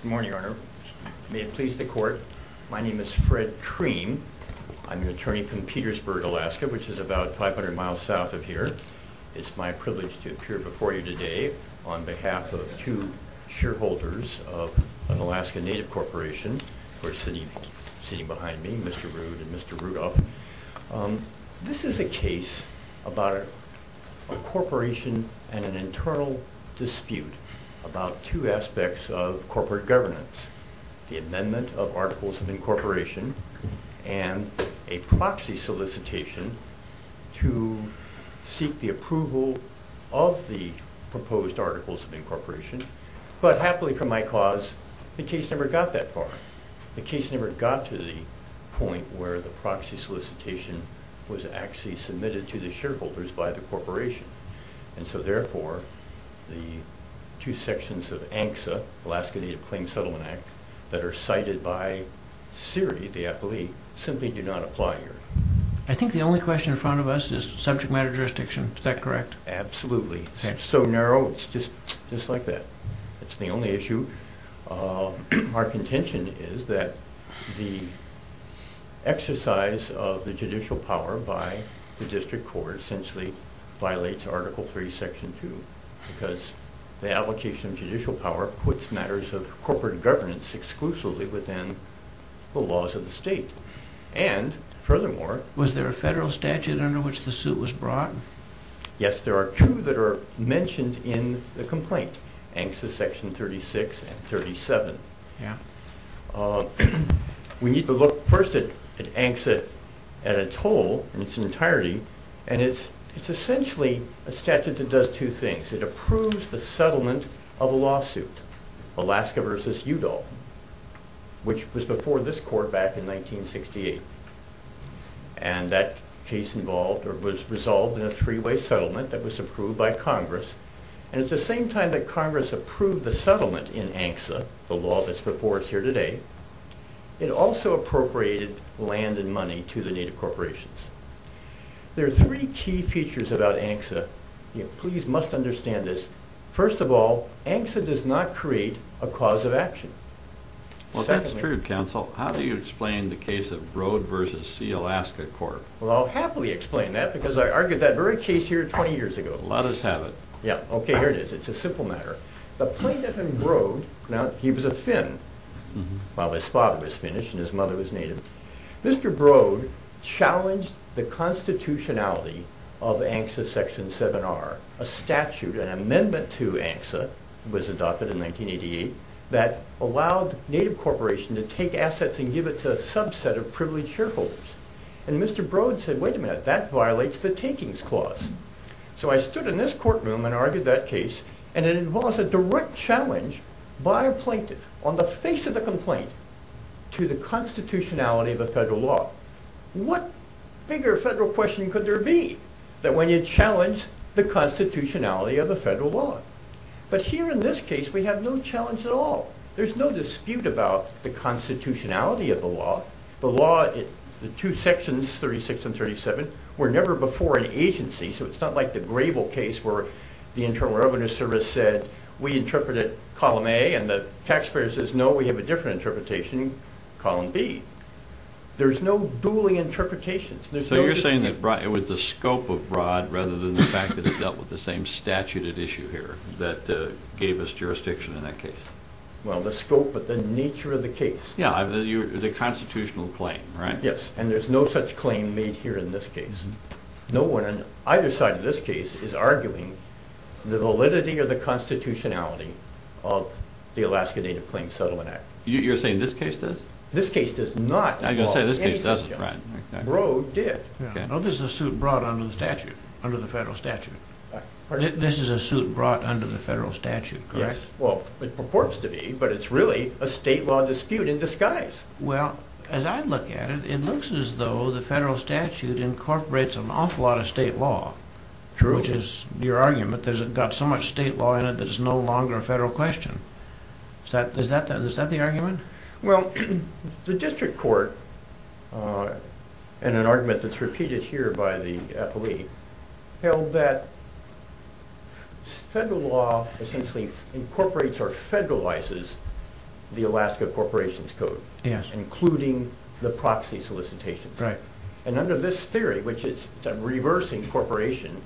Good morning, Your Honor. May it please the Court, my name is Fred Treem. I'm an attorney from Petersburg, Alaska, which is about 500 miles south of here. It's my privilege to appear before you today on behalf of two shareholders of an Alaskan native corporation, of course, sitting behind me, Mr. Rude and Mr. Rudolph. This is a case about a corporation and an internal dispute about two aspects of corporate governance, the amendment of Articles of Incorporation and a proxy solicitation to seek the approval of the proposed Articles of Incorporation. But, happily, for my cause, the case never got that far. The case never got to the point where the proxy solicitation was actually submitted to the shareholders by the corporation. And so, therefore, the two sections of ANCSA, Alaska Native Claims Settlement Act, that are cited by Siri, the appellee, simply do not apply here. I think the only question in front of us is subject matter jurisdiction. Is that correct? Absolutely. It's so narrow, it's just like that. It's the only issue. Our contention is that the exercise of the judicial power by the district court essentially violates Article 3, Section 2. Because the application of judicial power puts matters of corporate governance exclusively within the laws of the state. And, furthermore... Was there a federal statute under which the suit was brought? Yes, there are two that are mentioned in the complaint, ANCSA Section 36 and 37. We need to look first at ANCSA at its whole, in its entirety, and it's essentially a statute that does two things. It approves the settlement of a lawsuit, Alaska v. Udall, which was before this court back in 1968. And that case was resolved in a three-way settlement that was approved by Congress. And at the same time that Congress approved the settlement in ANCSA, the law that's before us here today, it also appropriated land and money to the Native corporations. There are three key features about ANCSA. Please must understand this. First of all, ANCSA does not create a cause of action. Well, that's true, counsel. How do you explain the case of Broad v. C. Alaska Court? Well, I'll happily explain that because I argued that very case here 20 years ago. Let us have it. Okay, here it is. It's a simple matter. The plaintiff in Broad, he was a Finn while his father was Finnish and his mother was Native. Mr. Broad challenged the constitutionality of ANCSA Section 7R, a statute, an amendment to ANCSA, was adopted in 1988, that allowed Native corporations to take assets and give it to a subset of privileged shareholders. And Mr. Broad said, wait a minute, that violates the takings clause. So I stood in this courtroom and argued that case, and it involves a direct challenge by a plaintiff on the face of the complaint to the constitutionality of a federal law. What bigger federal question could there be than when you challenge the constitutionality of a federal law? But here in this case, we have no challenge at all. There's no dispute about the constitutionality of the law. The law, the two sections, 36 and 37, were never before an agency, so it's not like the Grable case where the Internal Revenue Service said, we interpret it column A, and the taxpayer says, no, we have a different interpretation, column B. There's no dueling interpretations. So you're saying that it was the scope of Broad rather than the fact that it dealt with the same statute at issue here that gave us jurisdiction in that case? Well, the scope, but the nature of the case. Yeah, the constitutional claim, right? Yes, and there's no such claim made here in this case. No one on either side of this case is arguing the validity or the constitutionality of the Alaska Native Claims Settlement Act. You're saying this case does? This case does not involve any subject. I was going to say, this case doesn't, right. Broad did. Well, this is a suit brought under the statute, under the federal statute. This is a suit brought under the federal statute, correct? Well, it purports to be, but it's really a state law dispute in disguise. Well, as I look at it, it looks as though the federal statute incorporates an awful lot of state law, which is your argument. There's got so much state law in it that it's no longer a federal question. Is that the argument? Well, the district court, in an argument that's repeated here by the appellee, held that federal law essentially incorporates or federalizes the Alaska Corporations Code, including the proxy solicitations. Right. And under this theory, which is a reversing corporation,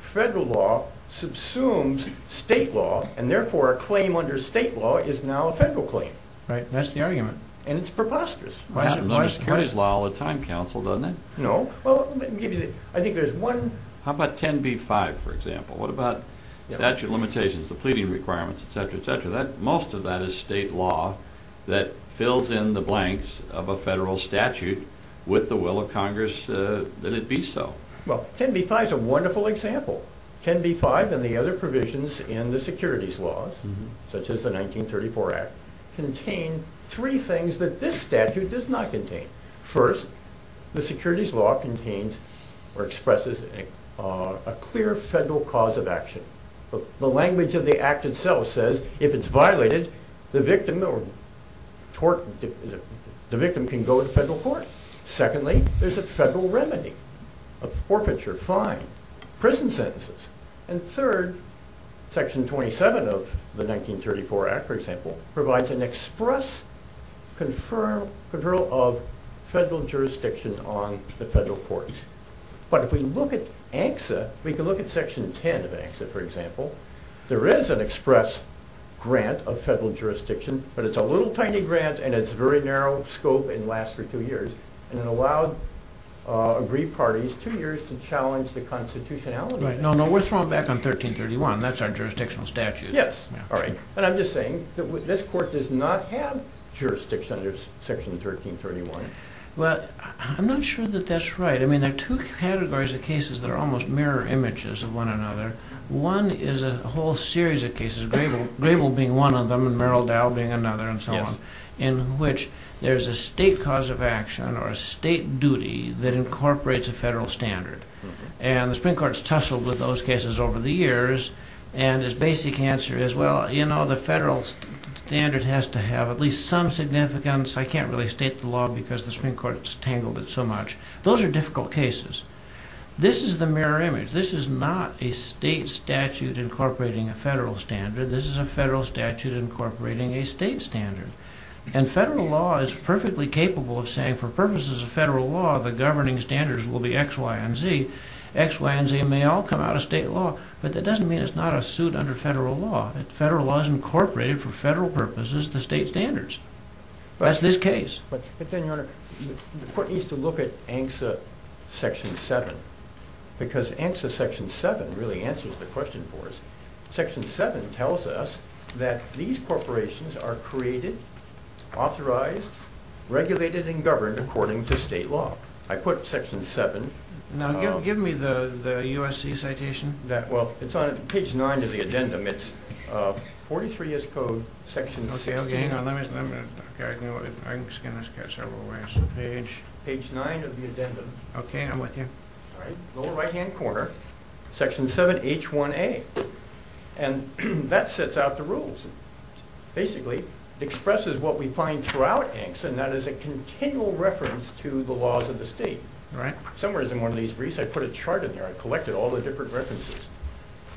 federal law subsumes state law, and therefore a claim under state law is now a federal claim. Right, that's the argument. And it's preposterous. It happens under securities law all the time, counsel, doesn't it? No. Well, I think there's one... How about 10b-5, for example? What about statute limitations, the pleading requirements, et cetera, et cetera? Most of that is state law that fills in the blanks of a federal statute with the will of Congress that it be so. Well, 10b-5 is a wonderful example. 10b-5 and the other provisions in the securities laws, such as the 1934 Act, contain three things that this statute does not contain. First, the securities law contains or expresses a clear federal cause of action. The language of the Act itself says if it's violated, the victim can go to federal court. Secondly, there's a federal remedy, a forfeiture, fine, prison sentences. And third, Section 27 of the 1934 Act, for example, provides an express conferral of federal jurisdiction on the federal courts. But if we look at ANCSA, we can look at Section 10 of ANCSA, for example. There is an express grant of federal jurisdiction, but it's a little tiny grant and it's very narrow scope and lasts for two years. And it allowed aggrieved parties two years to challenge the constitutionality. No, no, we're throwing back on 1331. That's our jurisdictional statute. Yes. All right. And I'm just saying that this court does not have jurisdiction under Section 1331. Well, I'm not sure that that's right. I mean, there are two categories of cases that are almost mirror images of one another. One is a whole series of cases, Grable being one of them and Merrill Dow being another and so on, in which there's a state cause of action or a state duty that incorporates a federal standard. And the Supreme Court has tussled with those cases over the years. And its basic answer is, well, you know, the federal standard has to have at least some significance. I can't really state the law because the Supreme Court has tangled it so much. Those are difficult cases. This is the mirror image. This is not a state statute incorporating a federal standard. This is a federal statute incorporating a state standard. And federal law is perfectly capable of saying, for purposes of federal law, the governing standards will be X, Y, and Z. X, Y, and Z may all come out of state law, but that doesn't mean it's not a suit under federal law. Federal law is incorporated for federal purposes, the state standards. That's this case. But then, Your Honor, the court needs to look at ANCSA Section 7 because ANCSA Section 7 really answers the question for us. Section 7 tells us that these corporations are created, authorized, regulated, and governed according to state law. I put Section 7. Now, give me the USC citation. Well, it's on page 9 of the agenda. It's 43S Code, Section 16. Okay, okay, hang on, let me, let me, okay, I can scan this several ways. Page? Page 9 of the agenda. Okay, I'm with you. All right, lower right-hand corner. Section 7, H1A. And that sets out the rules. Basically, it expresses what we find throughout ANCSA, and that is a continual reference to the laws of the state. Somewhere in one of these briefs, I put a chart in there. I collected all the different references.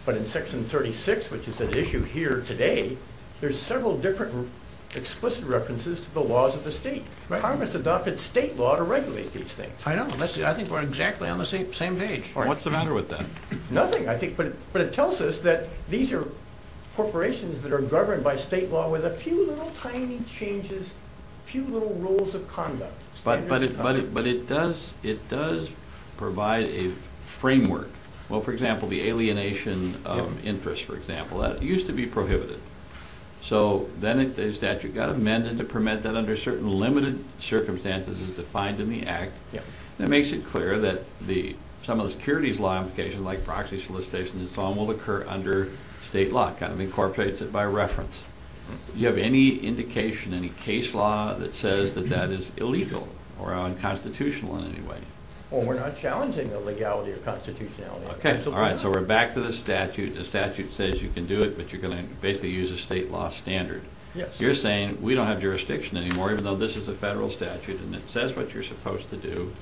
But in Section 36, which is at issue here today, there's several different explicit references to the laws of the state. Congress adopted state law to regulate these things. I know. I think we're exactly on the same page. What's the matter with that? Nothing, I think. But it tells us that these are corporations that are governed by state law with a few little tiny changes, a few little rules of conduct. But it does provide a framework. Well, for example, the alienation interest, for example, that used to be prohibited. So then the statute got amended to permit that under certain limited circumstances as defined in the Act. And it makes it clear that some of the securities law implications, like proxy solicitation and so on, will occur under state law. It kind of incorporates it by reference. Do you have any indication, any case law, that says that that is illegal or unconstitutional in any way? Well, we're not challenging illegality or constitutionality. Okay. All right. So we're back to the statute. The statute says you can do it, but you're going to basically use a state law standard. You're saying we don't have jurisdiction anymore, even though this is a federal statute and it says what you're supposed to do.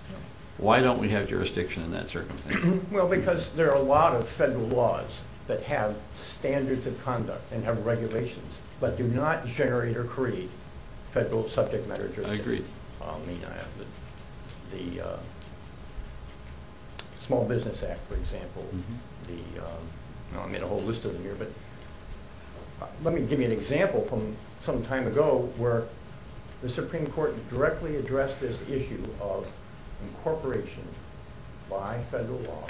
Why don't we have jurisdiction in that circumstance? Well, because there are a lot of federal laws that have standards of conduct and have regulations but do not generate or create federal subject matter jurisdiction. I agree. The Small Business Act, for example. I made a whole list of them here. But let me give you an example from some time ago where the Supreme Court directly addressed this issue of incorporation by federal law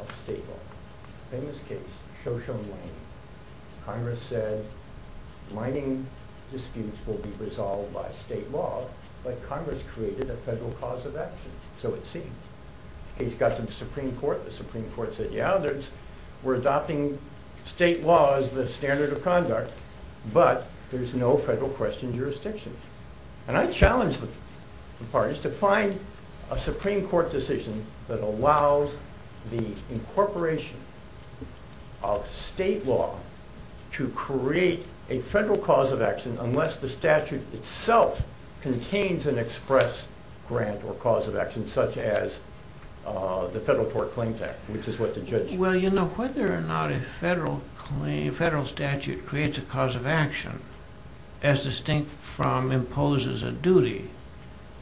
of state law. A famous case, Shoshone Mining. Congress said mining disputes will be resolved by state law, but Congress created a federal cause of action. So it seems. The case got to the Supreme Court. The Supreme Court said, yeah, we're adopting state law as the standard of conduct, but there's no federal question jurisdiction. And I challenge the parties to find a Supreme Court decision that allows the incorporation of state law to create a federal cause of action unless the statute itself contains an express grant or cause of action, such as the Federal Court Claims Act, which is what the judge... Well, you know, whether or not a federal statute creates a cause of action as distinct from imposes a duty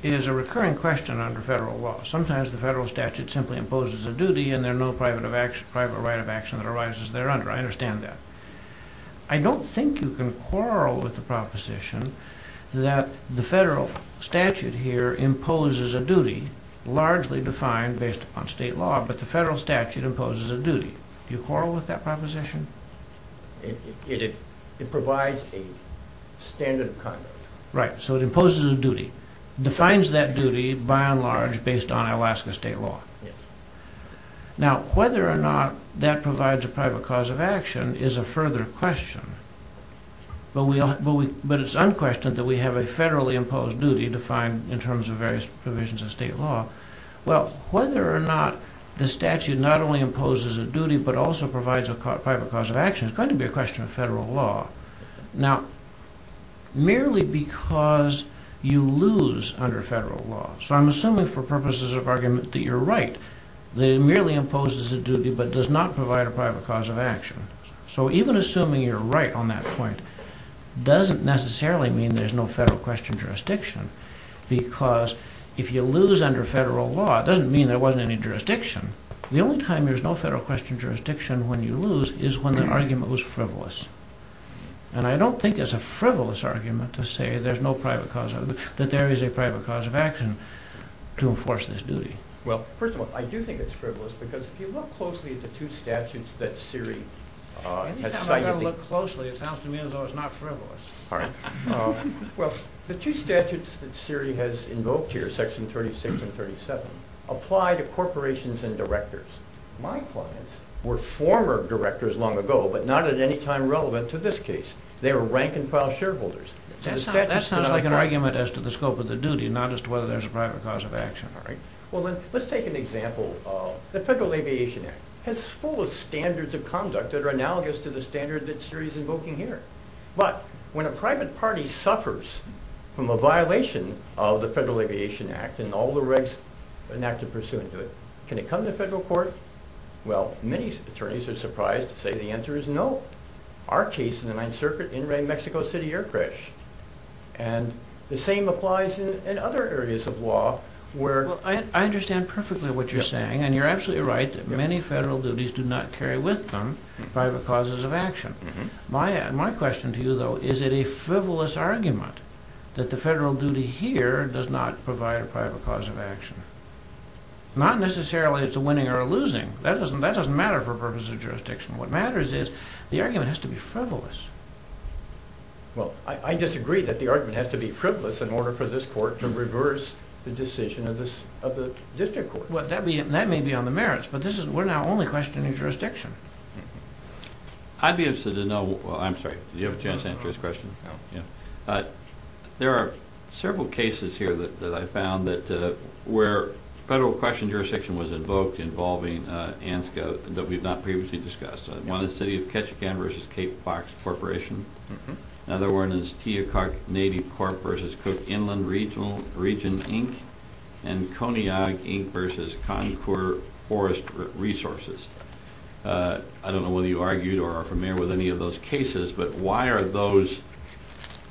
is a recurring question under federal law. Sometimes the federal statute simply imposes a duty and there's no private right of action that arises there under. I understand that. I don't think you can quarrel with the proposition that the federal statute here imposes a duty largely defined based on state law, but the federal statute imposes a duty. Do you quarrel with that proposition? It provides a standard of conduct. Right. So it imposes a duty, defines that duty by and large based on Alaska state law. Now, whether or not that provides a private cause of action is a further question, but it's unquestioned that we have a federally imposed duty defined in terms of various provisions of state law. Well, whether or not the statute not only imposes a duty but also provides a private cause of action is going to be a question of federal law. Now, merely because you lose under federal law, so I'm assuming for purposes of argument that you're right, that it merely imposes a duty but does not provide a private cause of action. So even assuming you're right on that point doesn't necessarily mean there's no federal question jurisdiction because if you lose under federal law, it doesn't mean there wasn't any jurisdiction. The only time there's no federal question jurisdiction when you lose is when the argument was frivolous. And I don't think it's a frivolous argument to say there's no private cause of action, that there is a private cause of action to enforce this duty. Well, first of all, I do think it's frivolous because if you look closely at the two statutes that Siri has cited... Anytime I've got to look closely, it sounds to me as though it's not frivolous. Well, the two statutes that Siri has invoked here, section 36 and 37, apply to corporations and directors. My clients were former directors long ago but not at any time relevant to this case. They were rank-and-file shareholders. That sounds like an argument as to the scope of the duty, not as to whether there's a private cause of action, right? Well, let's take an example. The Federal Aviation Act has full of standards of conduct that are analogous to the standard that Siri's invoking here. But when a private party suffers from a violation of the Federal Aviation Act and all the regs enacted pursuant to it, can it come to federal court? Well, many attorneys are surprised to say the answer is no. Our case is the 9th Circuit in-ring Mexico City air crash. And the same applies in other areas of law where... Well, I understand perfectly what you're saying, and you're absolutely right that many federal duties do not carry with them private causes of action. My question to you, though, is it a frivolous argument that the federal duty here does not provide a private cause of action? Not necessarily it's a winning or a losing. That doesn't matter for purposes of jurisdiction. What matters is the argument has to be frivolous. Well, I disagree that the argument has to be frivolous in order for this court to reverse the decision of the district court. Well, that may be on the merits, but we're now only questioning jurisdiction. I'd be interested to know... well, I'm sorry, did you have a chance to answer his question? No. Yeah. There are several cases here that I found that where federal question jurisdiction was invoked involving ANSCA that we've not previously discussed. One is City of Ketchikan v. Cape Fox Corporation. Another one is Teocock Navy Corp. v. Cook Inland Region, Inc. and Coneyag, Inc. v. Concord Forest Resources. I don't know whether you argued or are familiar with any of those cases, but why are those,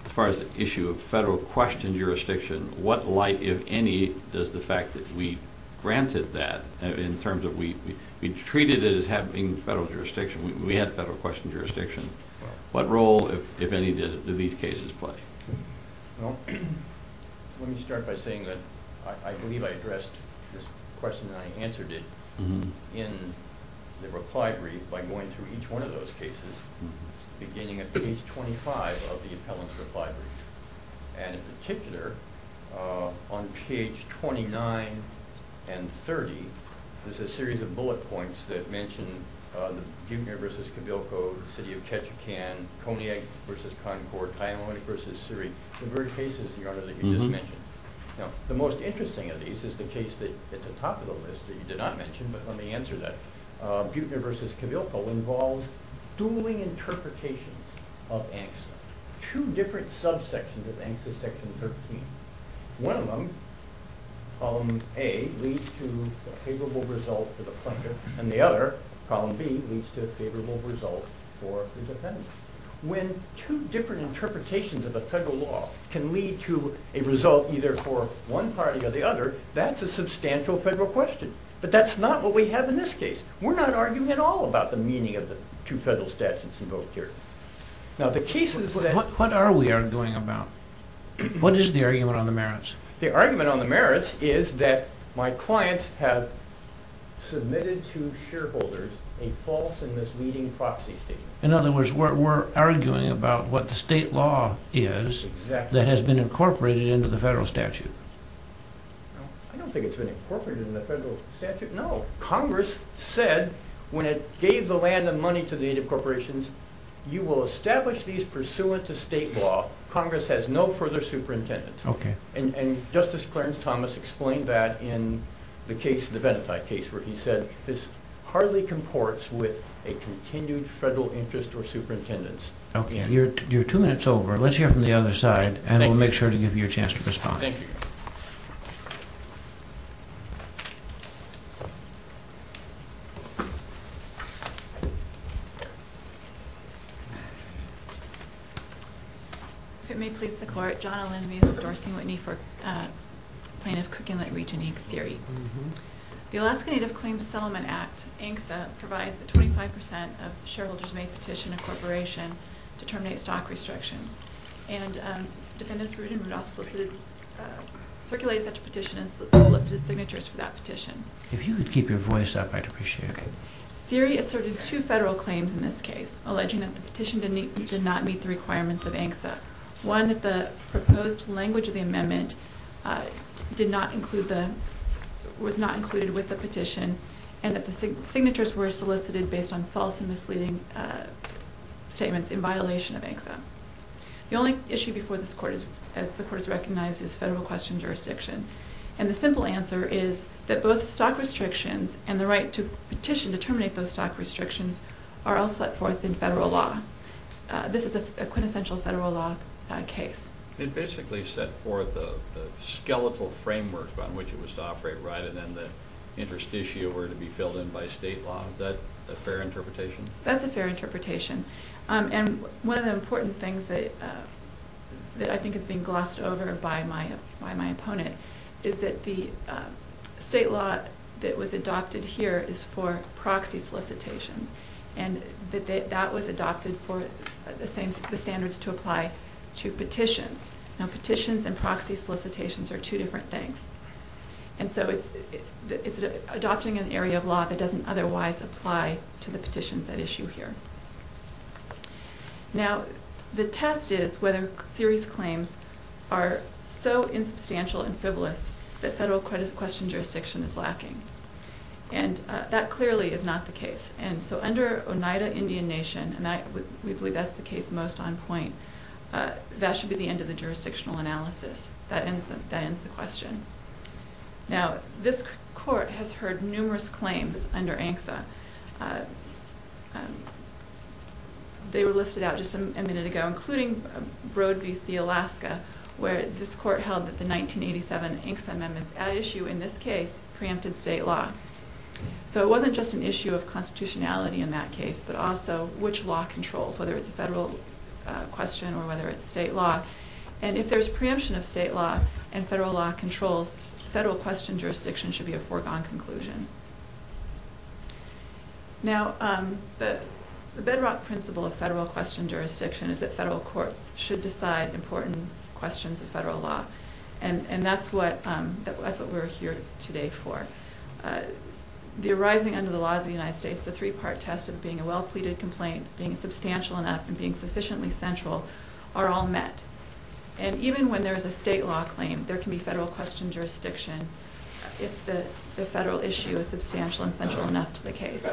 as far as the issue of federal question jurisdiction, what light, if any, does the fact that we granted that in terms of we treated it as having federal jurisdiction, we had federal question jurisdiction, what role, if any, do these cases play? Well, let me start by saying that I believe I addressed this question and I answered it in the reply brief by going through each one of those cases, beginning at page 25 of the appellant's reply brief. And in particular, on page 29 and 30, there's a series of bullet points that mention Butener v. Cavilco, City of Ketchikan, Coneyag v. Concord, Teocock v. Surrey, the very cases, Your Honor, that you just mentioned. Now, the most interesting of these is the case that's at the top of the list that you did not mention, but let me answer that. Butener v. Cavilco involves dueling interpretations of ANSCA. There are two different subsections of ANSCA section 13. One of them, problem A, leads to a favorable result for the plaintiff, and the other, problem B, leads to a favorable result for the defendant. When two different interpretations of a federal law can lead to a result either for one party or the other, that's a substantial federal question. But that's not what we have in this case. We're not arguing at all about the meaning of the two federal statutes invoked here. What are we arguing about? What is the argument on the merits? The argument on the merits is that my clients have submitted to shareholders a false and misleading proxy statement. In other words, we're arguing about what the state law is that has been incorporated into the federal statute. I don't think it's been incorporated into the federal statute. No. Congress said when it gave the land and money to the native corporations, you will establish these pursuant to state law. Congress has no further superintendence. Okay. And Justice Clarence Thomas explained that in the case, the Benati case, where he said this hardly comports with a continued federal interest or superintendence. Okay. You're two minutes over. Let's hear from the other side, and we'll make sure to give you a chance to respond. Thank you. Thank you. If it may please the court, John O'Lenvy is endorsing Whitney for Plaintiff Cook Inlet Region Inc. The Alaska Native Claims Settlement Act, ANCSA, provides that 25% of shareholders may petition a corporation to terminate stock restrictions. And defendants Rood and Rudolph circulated such a petition and solicited signatures for that petition. If you could keep your voice up, I'd appreciate it. Okay. Siri asserted two federal claims in this case, alleging that the petition did not meet the requirements of ANCSA. One, that the proposed language of the amendment was not included with the petition, and that the signatures were solicited based on false and misleading statements in violation of ANCSA. The only issue before this court, as the court has recognized, is federal question jurisdiction. And the simple answer is that both stock restrictions and the right to petition to terminate those stock restrictions are all set forth in federal law. This is a quintessential federal law case. It basically set forth the skeletal framework on which it was to operate, right? And then the interest issue were to be filled in by state law. Is that a fair interpretation? That's a fair interpretation. And one of the important things that I think is being glossed over by my opponent is that the state law that was adopted here is for proxy solicitations. And that was adopted for the same standards to apply to petitions. Now, petitions and proxy solicitations are two different things. And so it's adopting an area of law that doesn't otherwise apply to the petitions at issue here. Now, the test is whether series claims are so insubstantial and fivolous that federal question jurisdiction is lacking. And that clearly is not the case. And so under Oneida Indian Nation, and we believe that's the case most on point, that should be the end of the jurisdictional analysis. That ends the question. Now, this court has heard numerous claims under ANCSA. They were listed out just a minute ago, including Broad v. C. Alaska, where this court held that the 1987 ANCSA amendments at issue in this case preempted state law. So it wasn't just an issue of constitutionality in that case, but also which law controls, whether it's a federal question or whether it's state law. And if there's preemption of state law and federal law controls, federal question jurisdiction should be a foregone conclusion. Now, the bedrock principle of federal question jurisdiction is that federal courts should decide important questions of federal law. And that's what we're here today for. The arising under the laws of the United States, the three-part test of being a well-pleaded complaint, being substantial enough, and being sufficiently central are all met. And even when there is a state law claim, there can be federal question jurisdiction if the federal issue is substantial and central enough to the case.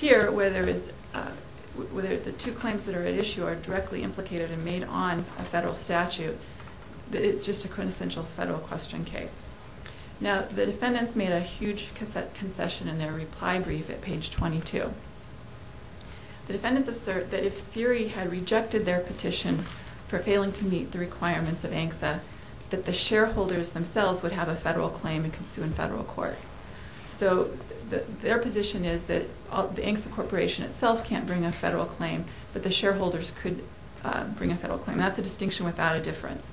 Here, where the two claims that are at issue are directly implicated and made on a federal statute, it's just a quintessential federal question case. Now, the defendants made a huge concession in their reply brief at page 22. The defendants assert that if Siri had rejected their petition for failing to meet the requirements of ANCSA, that the shareholders themselves would have a federal claim and could sue in federal court. So their position is that the ANCSA corporation itself can't bring a federal claim, but the shareholders could bring a federal claim. That's a distinction without a difference.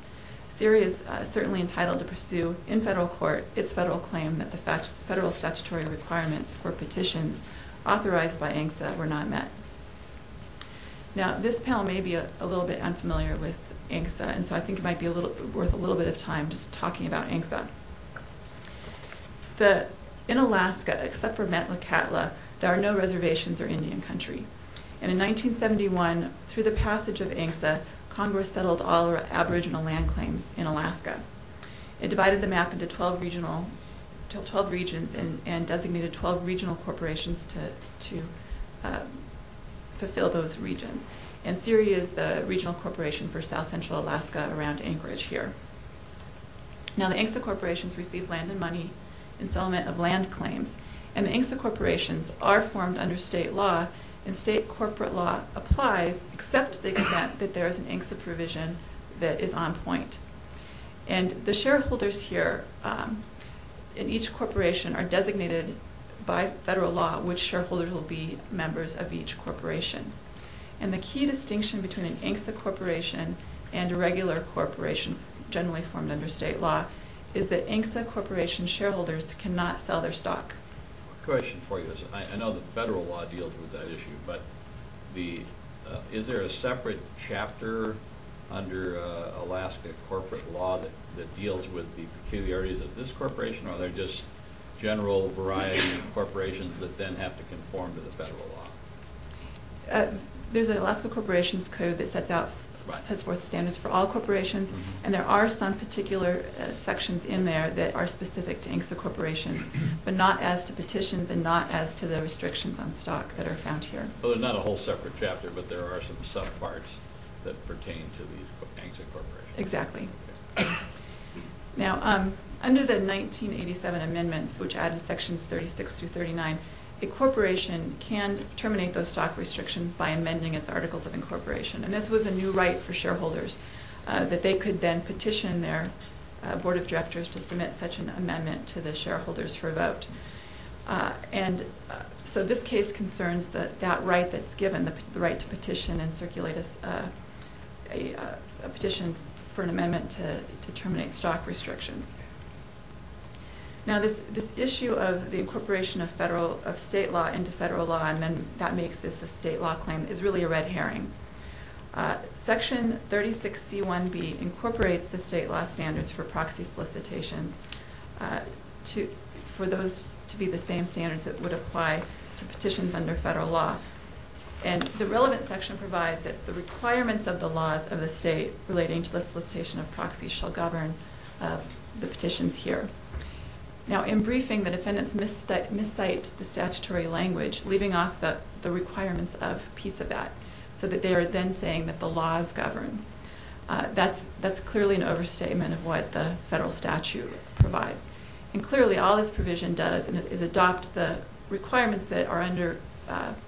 Siri is certainly entitled to pursue in federal court its federal claim that the federal statutory requirements for petitions authorized by ANCSA were not met. Now, this panel may be a little bit unfamiliar with ANCSA, and so I think it might be worth a little bit of time just talking about ANCSA. In Alaska, except for Metlakatla, there are no reservations or Indian country. And in 1971, through the passage of ANCSA, Congress settled all Aboriginal land claims in Alaska. It divided the map into 12 regions and designated 12 regional corporations to fulfill those regions. And Siri is the regional corporation for south-central Alaska around Anchorage here. Now, the ANCSA corporations receive land and money in settlement of land claims. And the ANCSA corporations are formed under state law, and state corporate law applies except to the extent that there is an ANCSA provision that is on point. And the shareholders here in each corporation are designated by federal law which shareholders will be members of each corporation. And the key distinction between an ANCSA corporation and a regular corporation generally formed under state law is that ANCSA corporation shareholders cannot sell their stock. I have a question for you. I know that federal law deals with that issue, but is there a separate chapter under Alaska corporate law that deals with the peculiarities of this corporation, or are there just general variety of corporations that then have to conform to the federal law? There's an Alaska corporations code that sets forth standards for all corporations, and there are some particular sections in there that are specific to ANCSA corporations, but not as to petitions and not as to the restrictions on stock that are found here. So there's not a whole separate chapter, but there are some subparts that pertain to these ANCSA corporations. Exactly. Now, under the 1987 amendments, which added sections 36 through 39, a corporation can terminate those stock restrictions by amending its articles of incorporation. And this was a new right for shareholders, that they could then petition their board of directors to submit such an amendment to the shareholders for a vote. And so this case concerns that right that's given, the right to petition and circulate a petition for an amendment to terminate stock restrictions. Now, this issue of the incorporation of state law into federal law, and then that makes this a state law claim, is really a red herring. Section 36C1B incorporates the state law standards for proxy solicitations for those to be the same standards that would apply to petitions under federal law. And the relevant section provides that the requirements of the laws of the state relating to the solicitation of proxies shall govern the petitions here. Now, in briefing, the defendants miscite the statutory language, leaving off the requirements of piece of that, so that they are then saying that the laws govern. That's clearly an overstatement of what the federal statute provides. And clearly, all this provision does is adopt the requirements that are under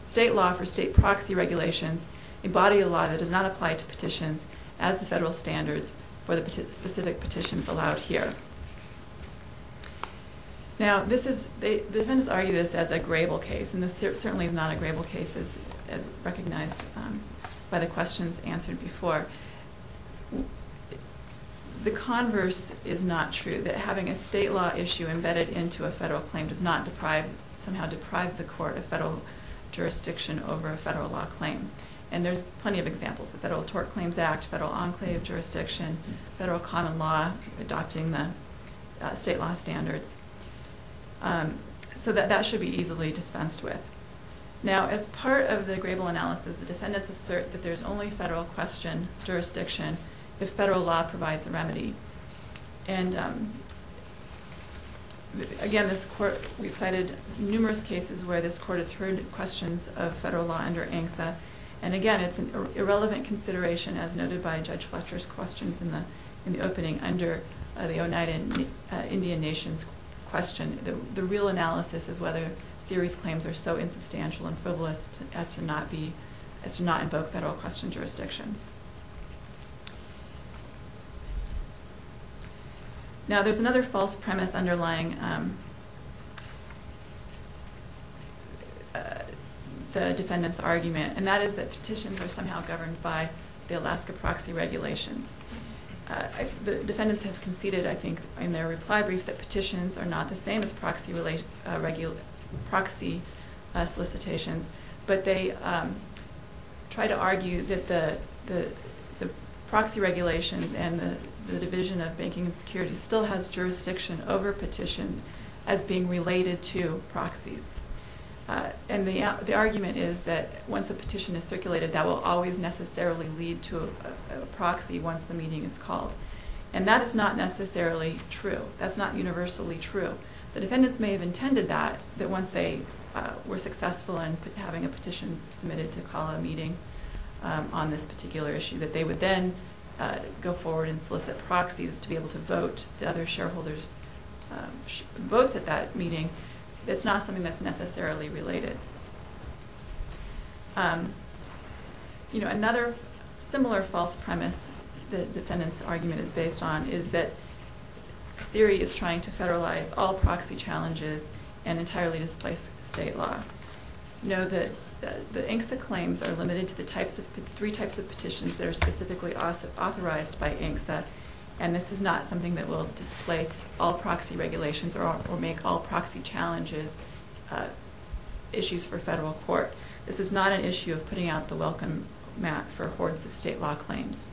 state law for state proxy regulations, embody a law that does not apply to petitions as the federal standards for the specific petitions allowed here. Now, this is, the defendants argue this as a grable case, and this certainly is not a grable case as recognized by the questions answered before. The converse is not true, that having a state law issue embedded into a federal claim does not deprive, somehow deprive the court of federal jurisdiction over a federal law claim. And there's plenty of examples, the Federal Tort Claims Act, Federal Enclave Jurisdiction, Federal Common Law, adopting the state law standards. So that should be easily dispensed with. Now, as part of the grable analysis, the defendants assert that there's only federal question jurisdiction if federal law provides a remedy. And again, this court, we've cited numerous cases where this court has heard questions of federal law under ANCSA. And again, it's an irrelevant consideration as noted by Judge Fletcher's questions in the opening under the Oneida Indian Nations question. The real analysis is whether series claims are so insubstantial and frivolous as to not be, as to not invoke federal question jurisdiction. Now, there's another false premise underlying the defendant's argument, and that is that petitions are somehow governed by the Alaska Proxy Regulations. The defendants have conceded, I think, in their reply brief that petitions are not the same as proxy solicitations. But they try to argue that the proxy regulations and the Division of Banking and Security still has jurisdiction over petitions as being related to proxies. And the argument is that once a petition is circulated, that will always necessarily lead to a proxy once the meeting is called. And that is not necessarily true. That's not universally true. The defendants may have intended that, that once they were successful in having a petition submitted to call a meeting on this particular issue, that they would then go forward and solicit proxies to be able to vote the other shareholders' votes at that meeting. It's not something that's necessarily related. You know, another similar false premise the defendant's argument is based on is that SIRI is trying to federalize all proxy challenges and entirely displace state law. Know that the INCSA claims are limited to the three types of petitions that are specifically authorized by INCSA, and this is not something that will displace all proxy regulations or make all proxy challenges issues for federal court. This is not an issue of putting out the welcome mat for hordes of state law claims.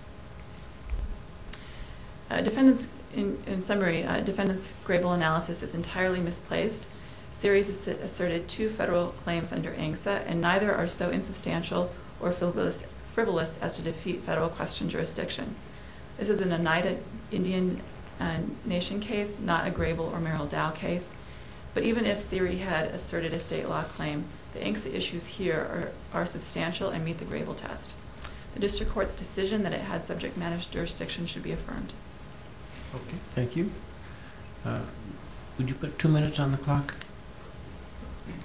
In summary, defendant's grable analysis is entirely misplaced. SIRI has asserted two federal claims under INCSA, and neither are so insubstantial or frivolous as to defeat federal question jurisdiction. This is an United Indian Nation case, not a grable or Merrill Dow case. But even if SIRI had asserted a state law claim, the INCSA issues here are substantial and meet the grable test. The district court's decision that it had subject-managed jurisdiction should be affirmed. Okay, thank you. Would you put two minutes on the clock?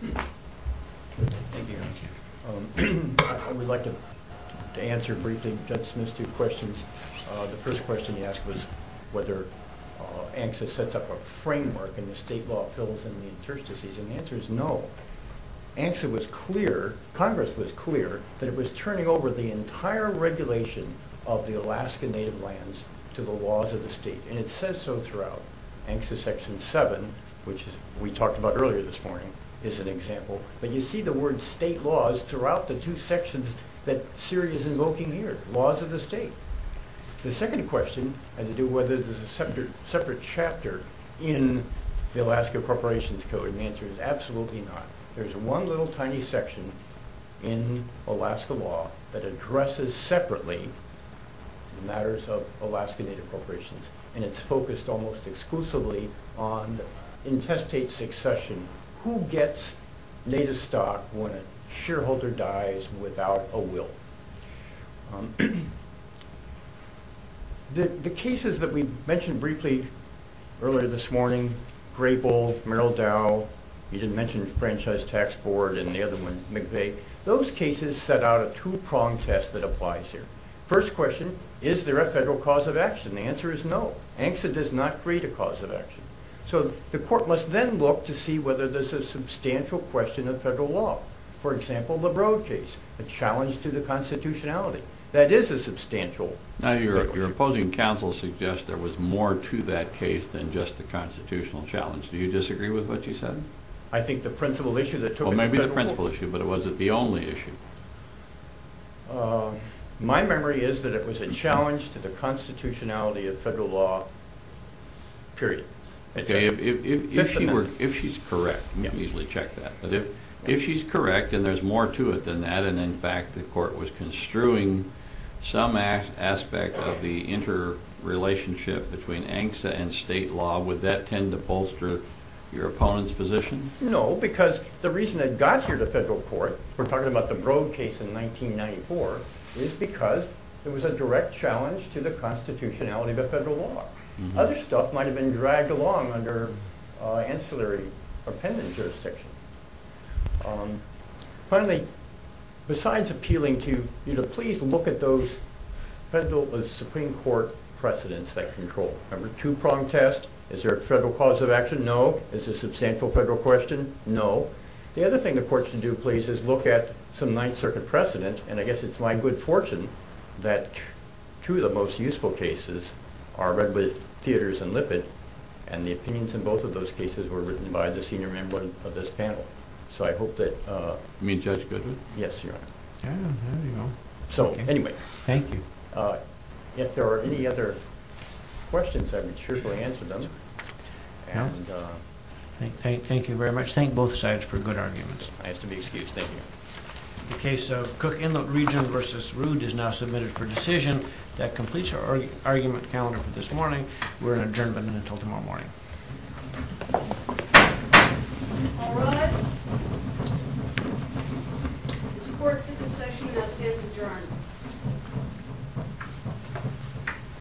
Thank you, Your Honor. I would like to answer briefly Judge Smith's two questions. The first question he asked was whether INCSA sets up a framework and the state law fills in the interstices, and the answer is no. INCSA was clear, Congress was clear, that it was turning over the entire regulation of the Alaska Native lands to the laws of the state, and it says so throughout. INCSA Section 7, which we talked about earlier this morning, is an example. But you see the word state laws throughout the two sections that SIRI is invoking here, laws of the state. The second question had to do with whether there's a separate chapter in the Alaska Corporations Code, and the answer is absolutely not. There's one little tiny section in Alaska law that addresses separately the matters of Alaska Native corporations, and it's focused almost exclusively on the intestate succession. Who gets native stock when a shareholder dies without a will? The cases that we mentioned briefly earlier this morning, Grable, Merrill Dow, you didn't mention Franchise Tax Board and the other one, McVeigh, those cases set out a two-pronged test that applies here. First question, is there a federal cause of action? The answer is no. INCSA does not create a cause of action. So the court must then look to see whether there's a substantial question of federal law. For example, the Broad case, a challenge to the constitutionality. That is a substantial federal issue. Now, your opposing counsel suggests there was more to that case than just the constitutional challenge. Do you disagree with what she said? I think the principal issue that took it to federal court... Well, maybe the principal issue, but was it the only issue? My memory is that it was a challenge to the constitutionality of federal law, period. If she's correct, we can easily check that. But if she's correct and there's more to it than that, and in fact the court was construing some aspect of the interrelationship between INCSA and state law, would that tend to bolster your opponent's position? No, because the reason it got here to federal court, we're talking about the Broad case in 1994, is because it was a direct challenge to the constitutionality of federal law. Other stuff might have been dragged along under ancillary or pendant jurisdiction. Finally, besides appealing to you to please look at those federal Supreme Court precedents that control. Remember, two-pronged test, is there a federal cause of action? No. Is there a substantial federal question? No. The other thing the court should do, please, is look at some Ninth Circuit precedent, and I guess it's my good fortune that two of the most useful cases are Redwood Theaters and Lippitt, and the opinions in both of those cases were written by the senior member of this panel. So I hope that... You mean Judge Goodwin? Yes, Your Honor. So, anyway. Thank you. If there are any other questions, I'm sure we'll answer them. Thank you very much. Thank both sides for good arguments. I have to be excused. Thank you. The case of Cook Inlet Region v. Rood is now submitted for decision. That completes our argument calendar for this morning. We're in adjournment until tomorrow morning. All rise. The support for this session now stands adjourned.